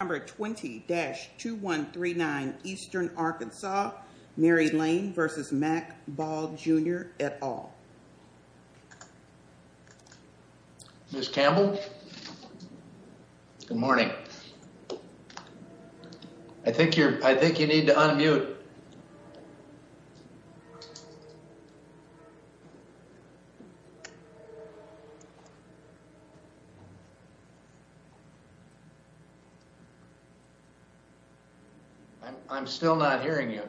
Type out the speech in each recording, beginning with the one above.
Number 20-2139 Eastern Arkansas, Mary Lane v. Mack Ball, Jr. at all. Ms. Campbell, good morning. I think you're, I think you need to unmute. I'm still not hearing you.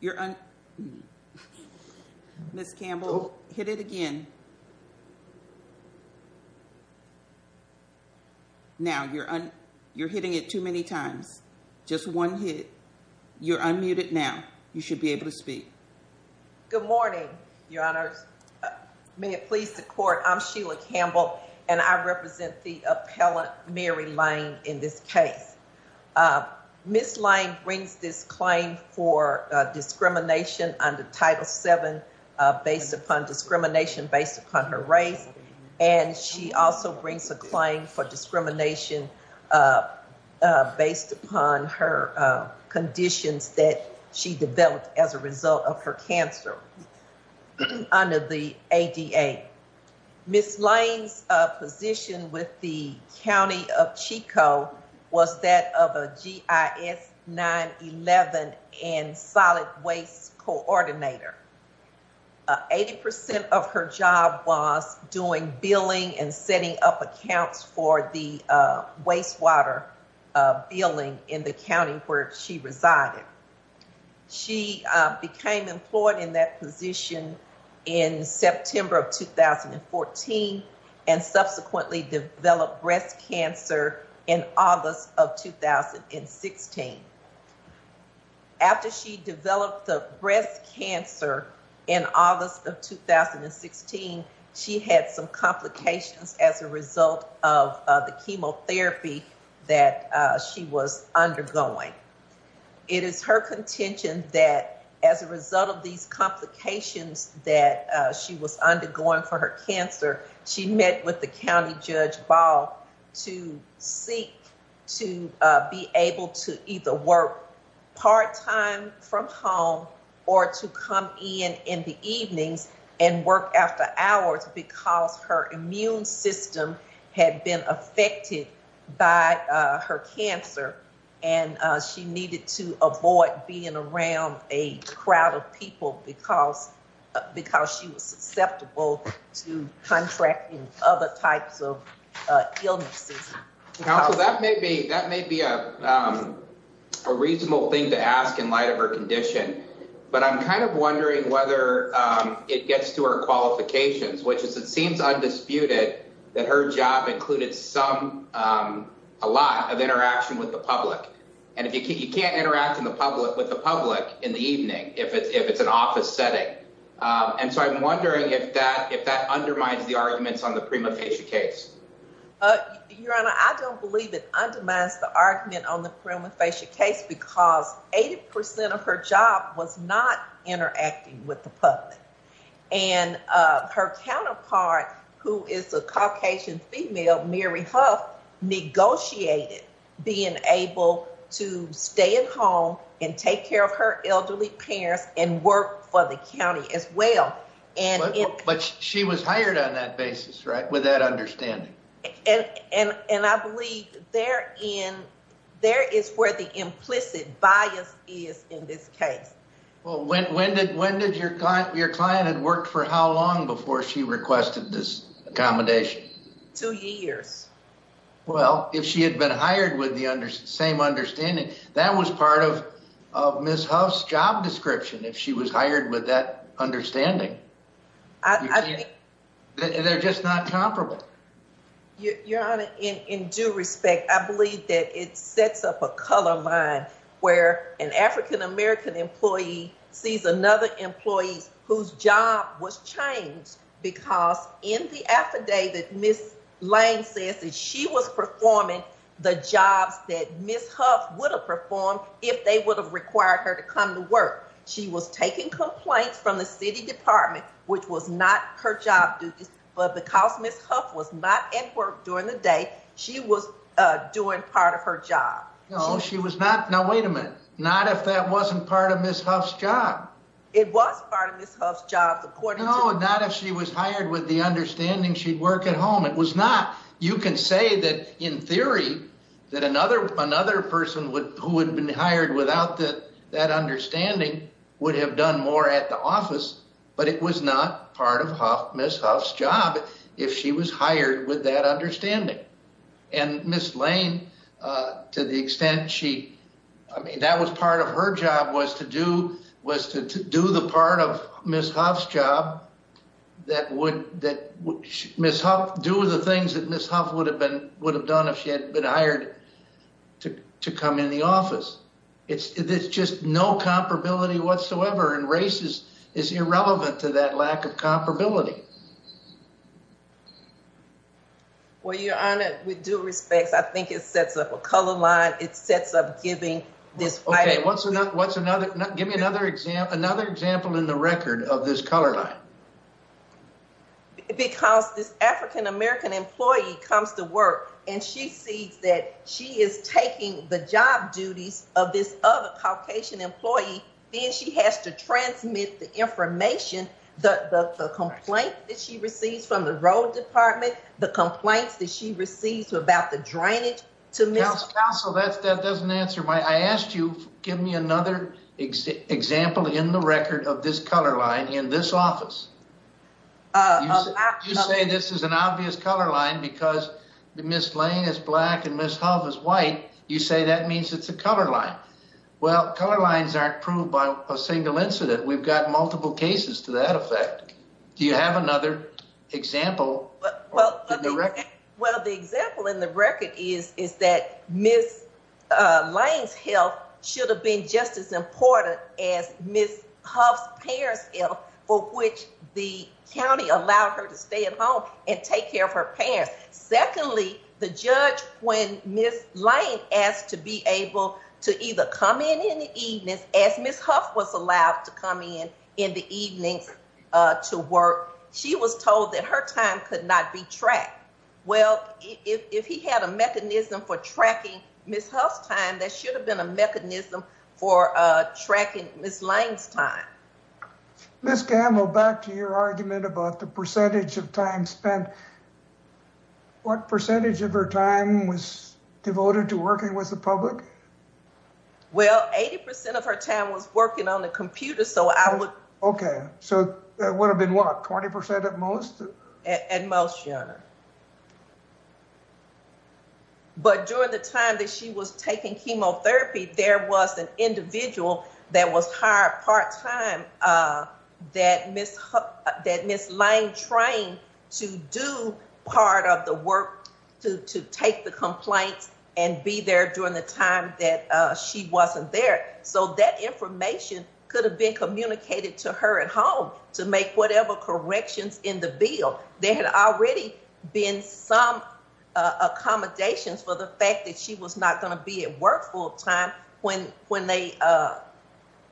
You're on. Ms. Campbell, hit it again. Now, you're on. You're hitting it too many times. Just one hit. You're unmuted. Now, you should be able to speak. Good morning, Your Honors. May it please the court. I'm Sheila Campbell. And I represent the appellant, Mary Lane, in this case. Ms. Lane brings this claim for discrimination under Title VII, based upon discrimination based upon her race. And she also brings a claim for discrimination based upon her conditions that she developed as a result of her cancer under the ADA. Ms. Lane's position with the County of Chico was that of a GIS 9-11 and solid waste coordinator. 80% of her job was doing billing and setting up accounts for the wastewater billing in the county where she resided. She became employed in that position in September of 2014 and subsequently developed breast cancer in August of 2016. After she developed the breast cancer in August of 2016, she had some complications as a result of the chemotherapy that she was undergoing. It is her contention that as a result of these complications that she was undergoing for her cancer, she met with the county judge Ball to seek to be able to either work part-time from home or to come in in the evenings and work after hours because her immune system had been affected by her cancer and she needed to avoid being around a crowd of people because she was susceptible to contracting other types of illnesses. That may be a reasonable thing to ask in light of her condition, but I'm kind of wondering whether it gets to her qualifications, which is it seems undisputed that her job included some a lot of interaction with the public and if you can't interact in the public with the public in the evening, if it's an office setting and so I'm wondering if that undermines the arguments on the prima facie case. Your Honor, I don't believe it undermines the argument on the prima facie case because 80% of her job was not interacting with the public and her counterpart who is a Caucasian female, Mary Huff, negotiated being able to stay at home and take care of her elderly parents and work for the county as well. But she was hired on that basis, right? With that understanding. And I believe there is where the implicit bias is in this case. Well, when did your client had worked for how long before she requested this accommodation? Two years. Well, if she had been hired with the same understanding, that was part of Ms. Huff's job description. If she was hired with that understanding, they're just not comparable. Your Honor, in due respect, I believe that it sets up a color where an African-American employee sees another employee whose job was changed because in the affidavit, Ms. Lane says that she was performing the jobs that Ms. Huff would have performed if they would have required her to come to work. She was taking complaints from the city department, which was not her job duties, but because Ms. Huff was not at work during the day, she was doing part of her job. No, she was not. Now, wait a minute. Not if that wasn't part of Ms. Huff's job. It was part of Ms. Huff's job, according to- No, not if she was hired with the understanding she'd work at home. It was not. You can say that in theory that another person who would have been hired without that understanding would have done more at the office, but it was not part of Ms. Huff's job if she was hired with that understanding. And Ms. Lane, to the extent she, I mean, that was part of her job was to do, was to do the part of Ms. Huff's job that would, that Ms. Huff, do the things that Ms. Huff would have been, would have done if she had been hired to come in the office. It's just no comparability whatsoever and race is irrelevant to that lack of comparability. Well, Your Honor, with due respect, I think it sets up a color line. It sets up giving this- Okay, what's another, give me another example, another example in the record of this color line. Because this African-American employee comes to work and she sees that she is taking the job duties of this other Caucasian employee, the complaints that she receives from the road department, the complaints that she receives about the drainage to Ms- Counsel, that doesn't answer my, I asked you to give me another example in the record of this color line in this office. You say this is an obvious color line because Ms. Lane is black and Ms. Huff is white. You say that means it's a color line. Well, color lines aren't proved by a single incident. We've got multiple cases to that effect. Do you have another example in the record? Well, the example in the record is that Ms. Lane's health should have been just as important as Ms. Huff's parents' health, for which the county allowed her to stay at home and take care of her parents. Secondly, the judge, when Ms. Lane asked to be able to either come in in the evenings, as Ms. Huff, to work, she was told that her time could not be tracked. Well, if he had a mechanism for tracking Ms. Huff's time, that should have been a mechanism for tracking Ms. Lane's time. Ms. Gamble, back to your argument about the percentage of time spent. What percentage of her time was devoted to working with the public? Well, 80% of her time was working on the computer. So I would... Okay. So that would have been, what, 20% at most? At most, Your Honor. But during the time that she was taking chemotherapy, there was an individual that was hired part-time that Ms. Lane trained to do part of the work, to take the complaints and be there during the time that she wasn't there. So that information could have been communicated to her at home to make whatever corrections in the bill. There had already been some accommodations for the fact that she was not going to be at work full-time when they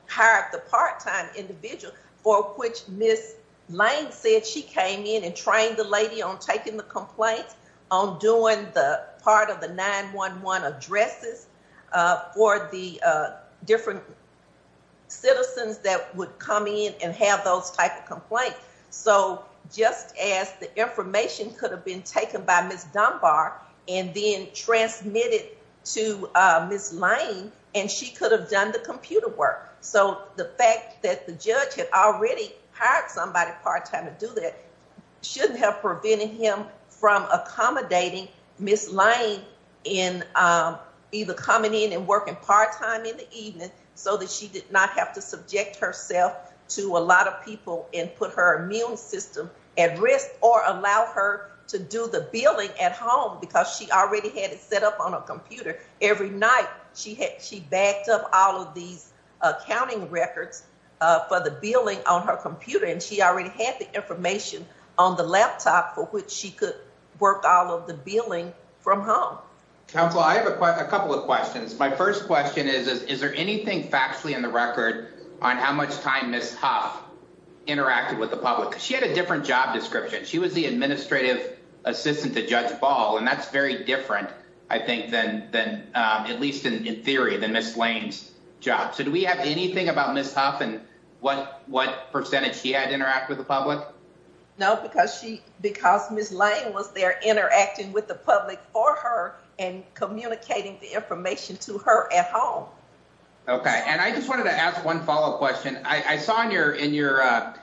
hired the part-time individual for which Ms. Lane said she came in and trained the lady on taking the complaints, on doing the part of the 911 addresses for the different citizens that would come in and have those type of complaints. So just as the information could have been taken by Ms. Dunbar and then transmitted to Ms. Lane, and she could have done the computer work. So the fact that the judge had already hired somebody part-time to accommodate Ms. Lane in either coming in and working part-time in the evening so that she did not have to subject herself to a lot of people and put her immune system at risk or allow her to do the billing at home because she already had it set up on a computer every night. She backed up all of these accounting records for the billing on her computer and she already had the information on the laptop for which she could work all of the billing from home. Counselor, I have a couple of questions. My first question is, is there anything factually in the record on how much time Ms. Huff interacted with the public? She had a different job description. She was the administrative assistant to Judge Ball and that's very different, I think, at least in theory, than Ms. Lane's job. So do we have anything about Ms. Huff and what percentage she had interact with the public? No, because Ms. Lane was there interacting with the public for her and communicating the information to her at home. Okay, and I just wanted to ask one follow-up question. I saw in your,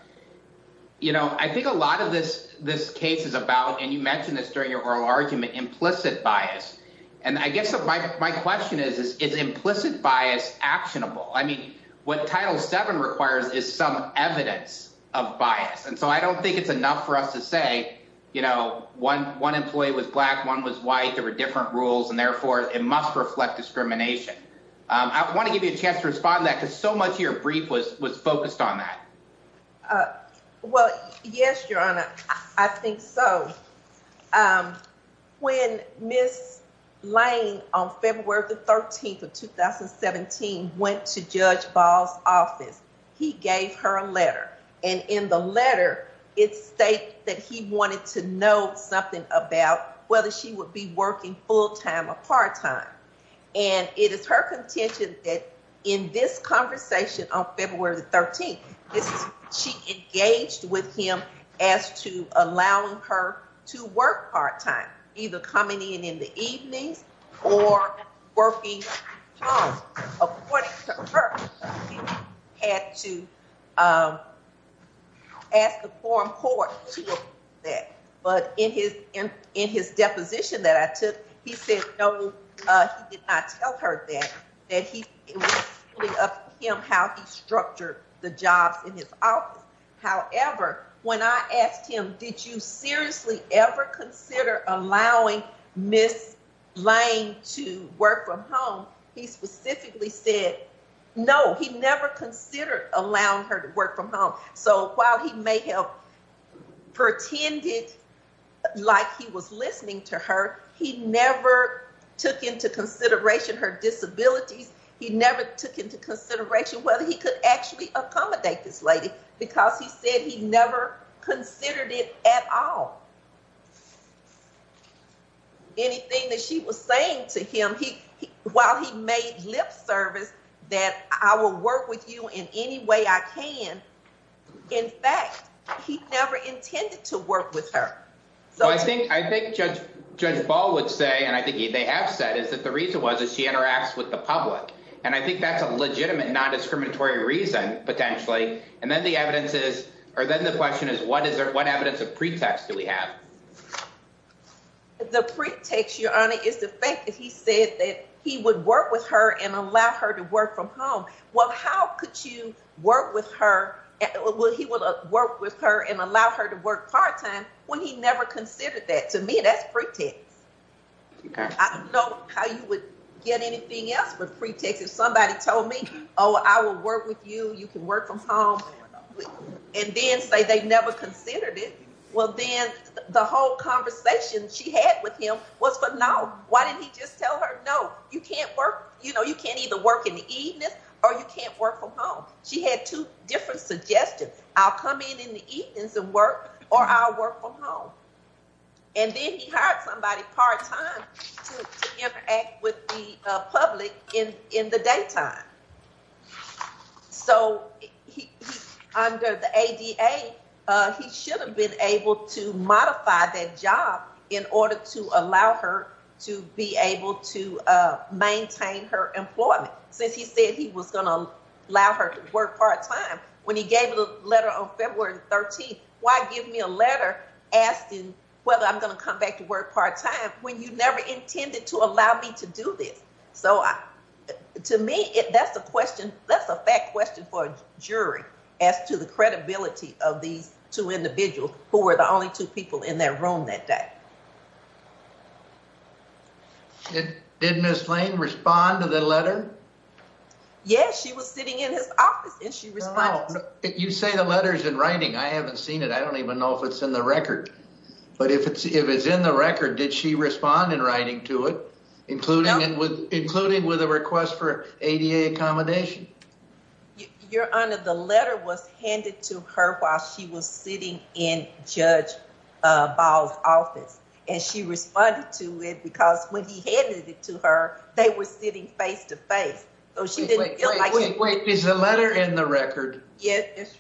you know, I think a lot of this case is about, and you mentioned this during your oral argument, implicit bias. And I guess my question is, is implicit bias actionable? I mean, what Title VII requires is some evidence of bias. And so I don't think it's enough for us to say, you know, one employee was black, one was white, there were different rules and therefore it must reflect discrimination. I want to give you a chance to respond to that because so much of your brief was focused on that. Well, yes, Your Honor, I think so. When Ms. Lane, on February the 13th of 2017, went to Judge Ball's office, he gave her a letter. And in the letter, it states that he wanted to know something about whether she would be working full-time or part-time. And it is her contention that in this conversation on February the 13th, she engaged with him as to allowing her to work part-time, either coming in in the evenings or working from home. He had to ask the forum court to approve that. But in his deposition that I took, he said no, he did not tell her that, that it was up to him how he structured the jobs in his office. However, when I asked him, did you seriously ever consider allowing Ms. Lane to work from home? He specifically said no, he never considered allowing her to work from home. So while he may have pretended like he was listening to her, he never took into consideration her disabilities. He never took into consideration whether he could actually accommodate this lady because he said he never considered it at all. Anything that she was saying to him, he, while he made lip service that I will work with you in any way I can, in fact, he never intended to work with her. So I think, I think Judge, Judge Ball would say, and I think they have said, is that the reason was that she interacts with the public and I think that's a legitimate non-discriminatory reason potentially. And then the evidence is, or then the question is, what is there, what evidence of pretext do we have? The pretext, Your Honor, is the fact that he said that he would work with her and allow her to work from home. Well, how could you work with her? Well, he will work with her and allow her to work part-time when he never considered that. To me, that's pretext. I don't know how you would get anything else but pretext. If somebody told me, oh, I will work with you, you can work from home, and then say they never considered it. Well, then the whole conversation she had with him was for, no. Why didn't he just tell her, no, you can't work, you know, you can't either work in the evenings or you can't work from home. She had two different suggestions. I'll come in in the evenings and work or I'll work from home. And then he hired somebody part-time to interact with the public in the daytime. So, under the ADA, he should have been able to modify that job in order to allow her to be able to maintain her employment, since he said he was going to allow her to work part-time. When he gave the letter on February 13th, why give me a letter asking whether I'm going to come back to work part-time when you never intended to allow me to do this? So, to me, that's a question, that's a fact question for a jury as to the credibility of these two individuals who were the only two people in their room that day. Did Ms. Lane respond to the letter? Yes, she was sitting in his office and she responded. You say the letter's in writing. I haven't seen it. I don't even know if it's in the record. But if it's in the record, did she respond in writing to it, including with a request for ADA accommodation? Your Honor, the letter was handed to her while she was sitting in Judge Ball's office, and she responded to it because when he handed it to her, they were sitting face-to-face. So, she didn't feel like she... Wait, wait, wait. Is the letter in the record? Yes.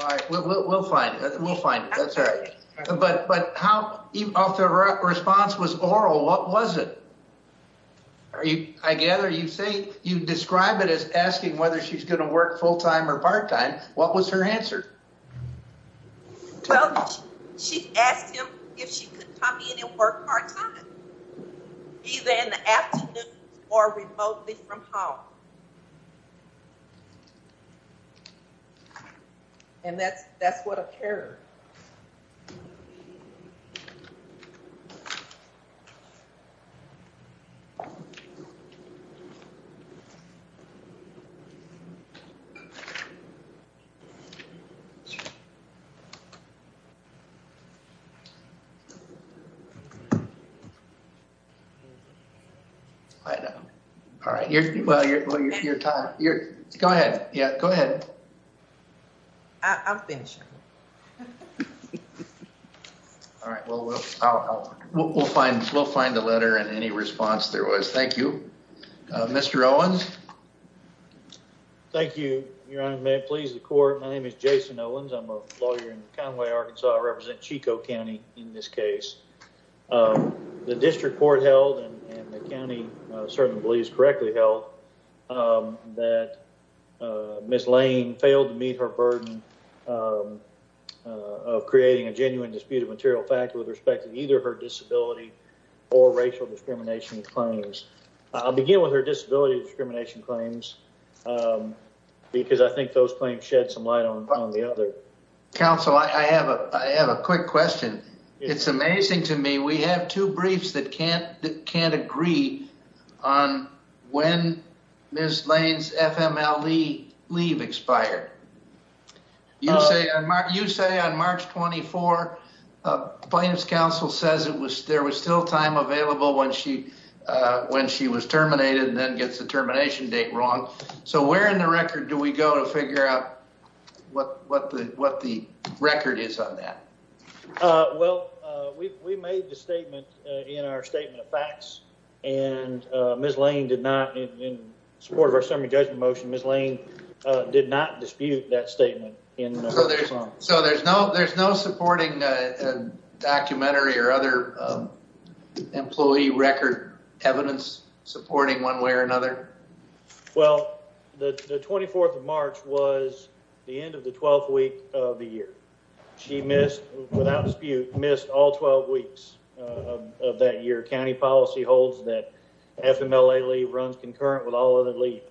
All right, we'll find it. We'll find it. That's all right. But how, if the response was oral, what was it? Are you, I gather you say, you describe it as asking whether she's going to work full-time or part-time. What was her answer? Well, she asked him if she could come in and work part-time. Either in the afternoon or remotely from home. And that's what occurred. I know. All right. You're, well, you're, you're, go ahead. Yeah, go ahead. I'm finishing. All right. Well, we'll find, we'll find the letter and any response there was. Thank you. Mr. Owens. Thank you, Your Honor. May it please the Court. My name is Jason Owens. I'm a lawyer in Conway, Arkansas. I represent Chico County in this case. The district court held, and the county certainly believes correctly held, that Ms. Lane failed to meet her burden of creating a genuine disputed material factor with respect to either her disability or racial discrimination claims. I'll begin with her disability discrimination claims because I think those claims shed some light on the other. Counsel, I have a, I have a quick question. It's amazing to me. We have two briefs that can't, can't agree on when Ms. Lane's FMLE leave expired. You say, you say on March 24, plaintiff's counsel says it was, there was still time available when she, when she was terminated and then gets the termination date wrong. So where in the record do we go to figure out what, what the, what the record is on that? Well, we, we made the statement in our statement of facts and Ms. Lane did not, in support of our summary judgment motion, Ms. Lane did not dispute that statement. So there's no, there's no supporting a documentary or other employee record evidence supporting one way or another? Well, the 24th of March was the end of the 12th week of the year. She missed, without dispute, missed all 12 weeks of that year. County policy holds that FMLE leave runs concurrent with all other leave.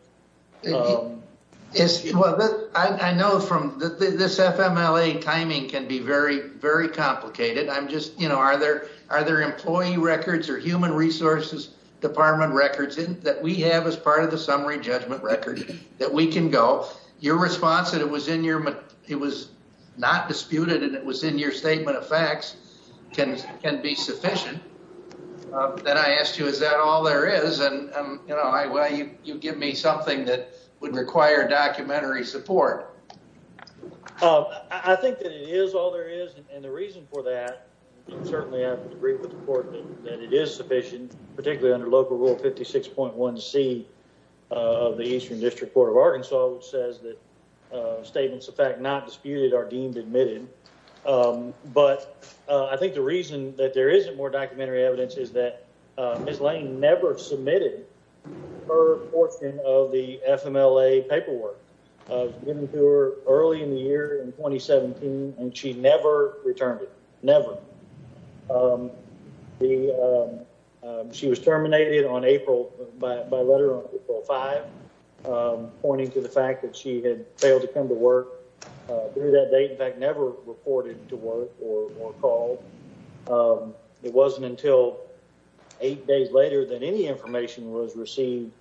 It's, well, I know from this FMLE timing can be very, very complicated. I'm just, you know, are there, are there employee records or human resources department records that we have as part of the summary judgment record that we can go? Your response that it was in your, it was not disputed and it was in your statement of facts can, can be sufficient. Then I asked you, is that all there is? And, um, you know, I, well, you, you give me something that would require documentary support. I think that it is all there is. And the reason for that, you can certainly have to agree with the court that it is sufficient, particularly under local rule 56.1C of the Eastern District Court of Arkansas, which says that statements of fact not disputed are deemed admitted. Um, but, uh, I think the reason that there isn't more documentary evidence is that, uh, Ms. Lane never submitted her portion of the FMLE paperwork, uh, given to her early in the year in 2017 and she never returned it. Never. Um, the, um, uh, she was terminated on April by, by letter on April 5, um, pointing to the fact that she had failed to come to work, uh, through that date, in fact, never reported to work or, or called. Um, it wasn't until eight days later than any information was received.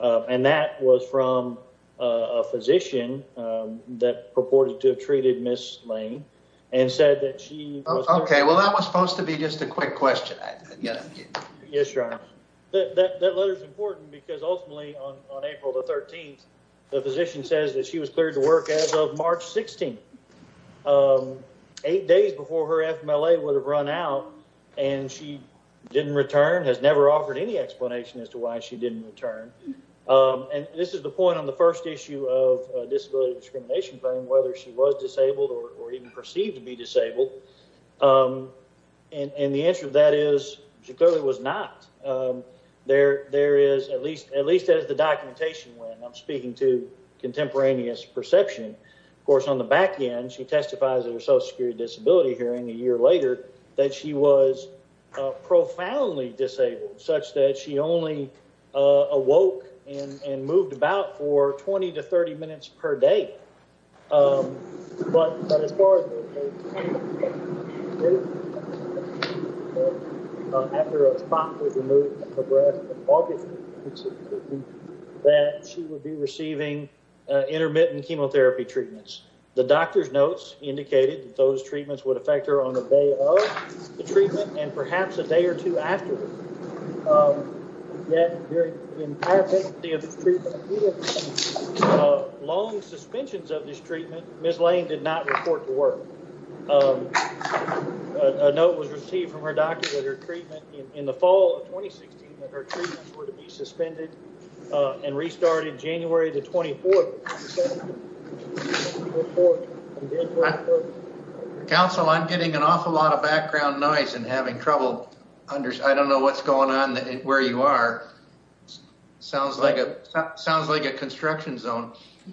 Uh, and that was from, uh, a physician, um, that purported to have treated Ms. Lane and said that she... Okay. Well, that was supposed to be just a quick question. Yeah. Yes, Your Honor. That, that, that letter is important because ultimately on April the 13th, the physician says that she was cleared to work as of March 16th. Um, eight days before her FMLE would have run out and she didn't return, has never offered any explanation as to why she didn't return. Um, and this is the point on the first issue of a disability discrimination claim, whether she was disabled or even perceived to be disabled. Um, and, and the answer to that is she clearly was not. Um, there, there is at least, at least as the documentation went, and I'm speaking to contemporaneous perception, of course, on the back end, she testifies at her social security disability hearing a year later that she was profoundly disabled such that she only, uh, awoke and, and moved about for 20 to 30 minutes per day. Um, but, but as far as that she would be receiving, uh, intermittent chemotherapy treatments. The doctor's notes indicated that those treatments would affect her on the day of the treatment and perhaps a day or two afterwards. Um, yet during the entirety of the treatment, uh, long suspensions of this treatment, Ms. Lane did not report to work. Um, a note was received from her doctor that her treatment in the fall of 2016, that her treatments were to be suspended, uh, and restarted January the 24th. Counsel, I'm getting an awful lot of background noise and having trouble. I don't know what's going on where you are. Sounds like a, sounds like a construction zone.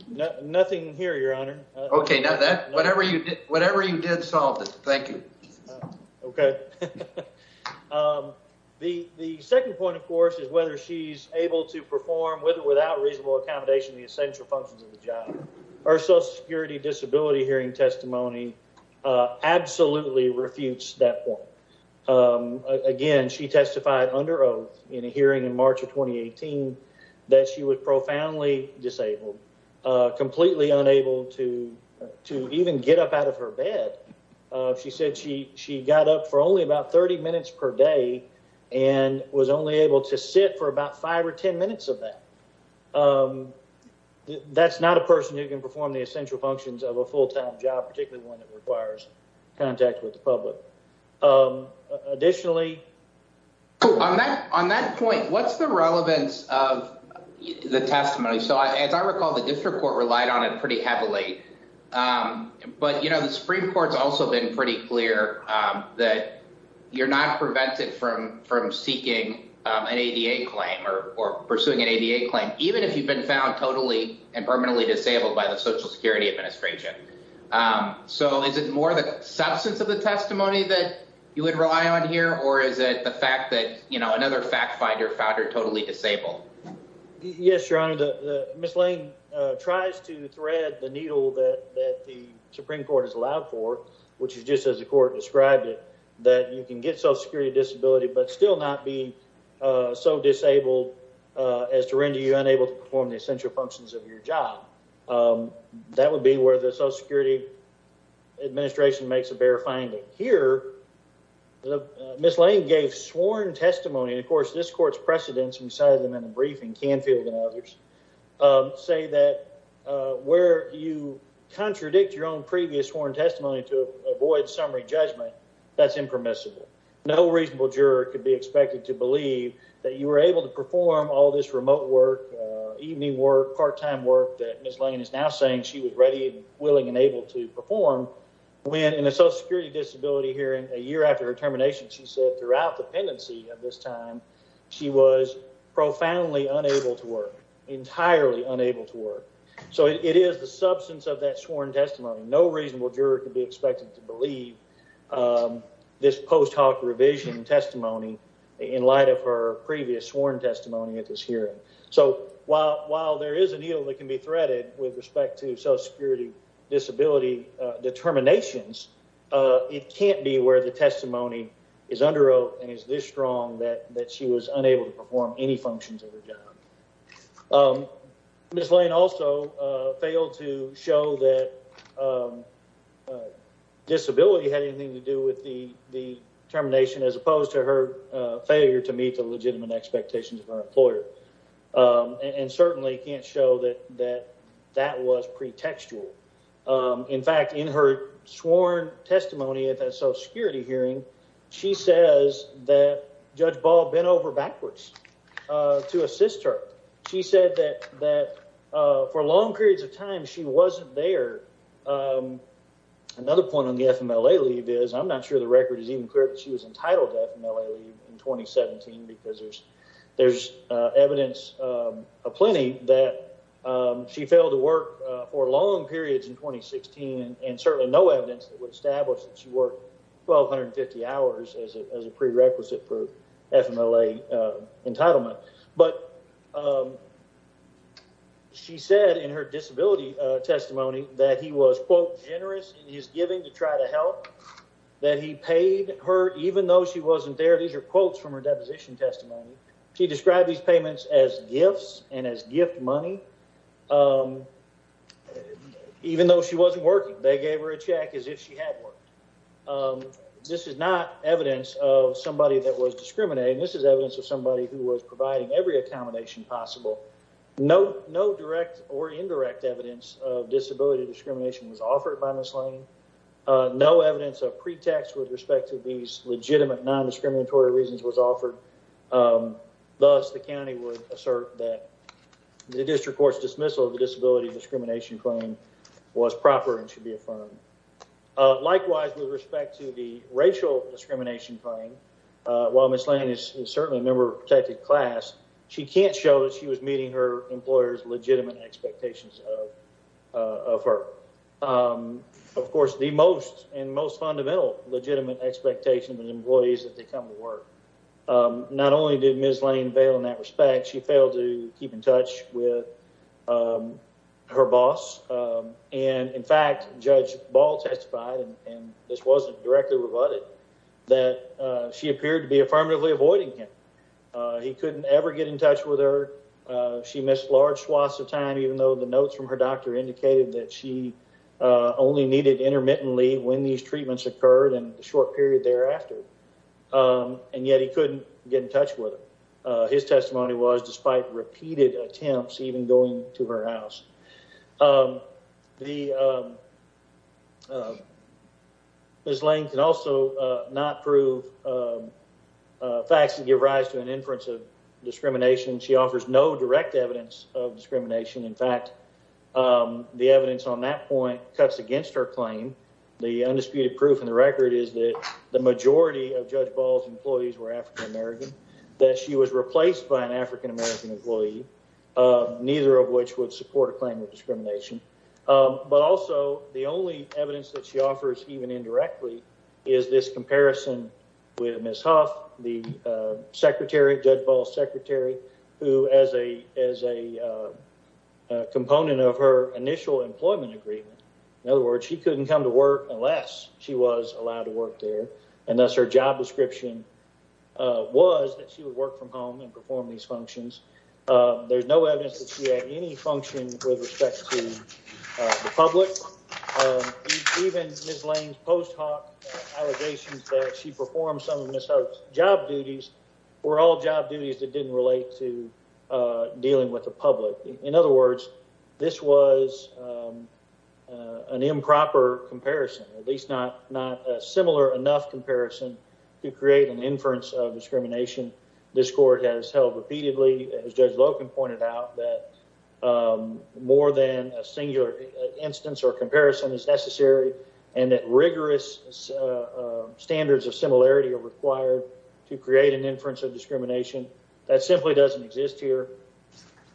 No, nothing here. Your honor. Okay. Now that whatever you did, whatever you did solved it. Thank you. Okay. Um, the, the second point of course, is whether she's able to perform with or without reasonable accommodation, the essential functions of the job or social security disability hearing testimony, uh, absolutely refutes that point. Um, again, she testified under oath in a hearing in March of 2018 that she was profoundly disabled, uh, completely unable to, to even get up out of her bed. Uh, she said she, she got up for only about 30 minutes per day and was only able to sit for about five or 10 minutes of that. Um, that's not a person who can perform the essential functions of a full-time job, particularly one that requires contact with the public. Um, additionally on that, on that point, what's the relevance of the testimony? So as I recall, the district court relied on it pretty heavily. Um, but you know, the Supreme court's also been pretty clear, um, that you're not prevented from, from seeking an ADA claim or, or pursuing an ADA claim, even if you've been found totally and permanently disabled by the social security administration. Um, so is it more of the substance of the testimony that you would rely on here? Or is it the fact that, you know, another fact finder found her totally disabled? Yes, Your Honor. The Ms. Lane, uh, tries to thread the needle that, that the Supreme court has allowed for, which is just as the court described it, that you can get social security disability, but still not being, uh, so disabled, uh, as to render you unable to perform the essential functions of your job. Um, that would be where the social security administration makes a bare finding here. The Ms. Lane gave sworn testimony. And of course, this court's precedents, we cited them in a briefing, Canfield and others, um, say that, uh, where you contradict your own previous sworn testimony to avoid summary judgment, that's impermissible. No reasonable juror could be expected to believe that you were able to perform all this remote work, uh, evening work, part-time work that Ms. Lane is now saying she was ready and willing and able to perform. When in a social security disability hearing a year after her termination, she said throughout the pendency of this time, she was profoundly unable to work. Entirely unable to work. So it is the substance of that sworn testimony. No reasonable juror could be expected to believe, um, this post hoc revision testimony in light of her previous sworn testimony at this hearing. So while, while there is a needle that can be threaded with respect to social security disability, uh, determinations, uh, it can't be where the testimony is under oath and is this strong that, that she was unable to perform any functions of her job. Um, Ms. Lane also, uh, failed to show that, um, uh, disability had anything to do with the, the termination as opposed to her, uh, failure to meet the legitimate expectations of her employer. Um, and certainly can't show that, that that was pretextual. Um, in fact, in her sworn testimony at that social security hearing, she says that Judge Ball bent over backwards, uh, to assist her. She said that, that, uh, for long periods of time, she wasn't there. Um, another point on the FMLA leave is I'm not sure the record is even clear that she was entitled to FMLA leave in 2017 because there's, there's, uh, evidence, um, a plenty that, um, she failed to work for long periods in 2016 and certainly no evidence that would establish that she worked 1,250 hours as a, as a prerequisite for FMLA, uh, entitlement. But, um, she said in her disability, uh, testimony that he was quote generous in his giving to try to help that he paid her, even though she wasn't there. These are quotes from her deposition testimony. She described these payments as gifts and as gift money. Um, even though she wasn't working, they gave her a check as if she had worked. Um, this is not evidence of somebody that was discriminating. This is evidence of somebody who was providing every accommodation possible. No, no direct or indirect evidence of disability discrimination was offered by Ms. Lane. Uh, no evidence of pretext with respect to these legitimate non-discriminatory reasons was offered. Um, thus the county would assert that the district court's dismissal of the disability discrimination claim was proper and should be affirmed. Uh, likewise, with respect to the racial discrimination claim, uh, while Ms. Lane is certainly a member of protected class, she can't show that she was meeting her employer's legitimate expectations of, uh, of her. Um, of course the most and most fundamental legitimate expectation of an employee is that they come to work. Um, not only did Ms. Lane bail in that respect, she failed to keep in touch with, um, her boss. Um, and in fact, Judge Ball testified, and this wasn't directly rebutted, that, uh, she appeared to be affirmatively avoiding him. Uh, he couldn't ever get in touch with her. Uh, she missed large swaths of time, even though the notes from her doctor indicated that she, uh, only needed intermittently when these treatments occurred and the short period thereafter. Um, and yet he couldn't get in touch with her. Uh, his testimony was despite repeated attempts, even going to her house. Um, the, um, uh, Ms. Lane can also, uh, not prove, uh, uh, facts that give rise to an inference of discrimination. She offers no direct evidence of discrimination. In fact, um, the evidence on that point cuts against her claim. The undisputed proof in the record is that the majority of Judge Ball's employees were African-American, that she was replaced by an African-American employee, uh, neither of which would support a claim of discrimination. Um, but also the only evidence that she offers even indirectly is this comparison with Ms. Huff, the, uh, secretary, Judge Ball's secretary, who as a, as a, uh, uh, component of her initial employment agreement, in other words, she couldn't come to work unless she was allowed to work there. And thus her job description, uh, was that she would work from home and um, there's no evidence that she had any function with respect to, uh, the public, um, even Ms. Lane's post hoc allegations that she performed some of Ms. Huff's job duties were all job duties that didn't relate to, uh, dealing with the public. In other words, this was, um, uh, an improper comparison, at least not, not a similar enough comparison to create an inference of discrimination. This court has held repeatedly as Judge Loken pointed out that, um, more than a singular instance or comparison is necessary and that rigorous, uh, uh, standards of similarity are required to create an inference of discrimination that simply doesn't exist here.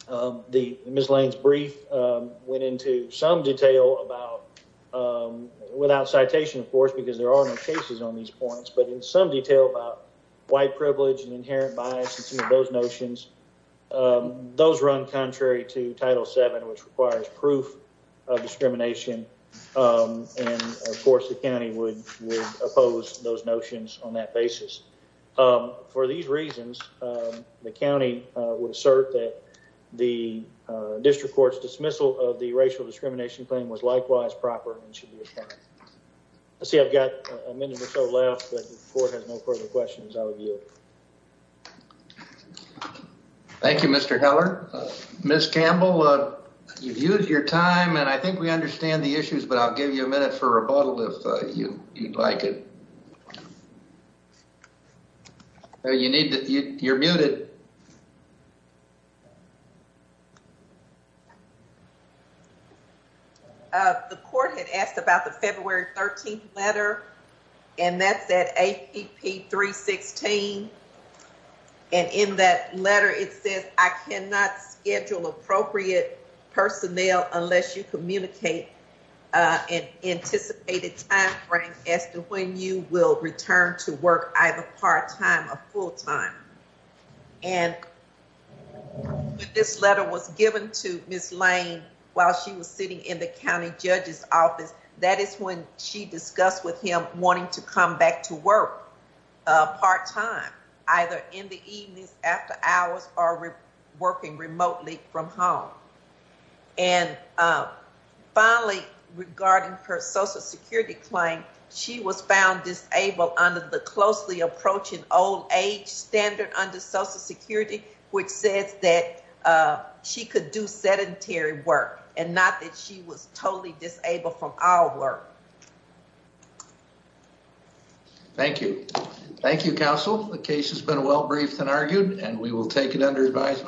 Um, the Ms. Lane's brief, um, went into some detail about, um, without citation, of course, because there are no cases on these points, but in some detail about white privilege and inherent bias and some of those notions, um, those run contrary to Title VII, which requires proof of discrimination. Um, and of course the county would, would oppose those notions on that basis. Um, for these reasons, um, the county, uh, would assert that the, uh, district court's dismissal of the racial discrimination claim was likewise proper and should be applied. Let's see. I've got a minute or so left, but the court has no further questions out of you. Thank you, Mr. Heller. Ms. Campbell, uh, you've used your time and I think we understand the issues, but I'll give you a minute for rebuttal if you'd like it. You need to, you're muted. Uh, the court had asked about the February 13th letter and that's at APP 316 and in that letter it says, I cannot schedule appropriate personnel unless you communicate, uh, an anticipated time frame as to when you will return to work either part-time or full-time. And this letter was given to Ms. Lane while she was sitting in the county judge's office. That is when she discussed with him wanting to come back to work, uh, part time, either in the evenings after hours or working remotely from home. And, uh, finally regarding her social security claim, she was found disabled under the closely approaching old age standard under social security, which says that, uh, she could do sedentary work and not that she was totally disabled from our work. Thank you. Thank you, counsel. The case has been well briefed and argued and we will take it under advisement.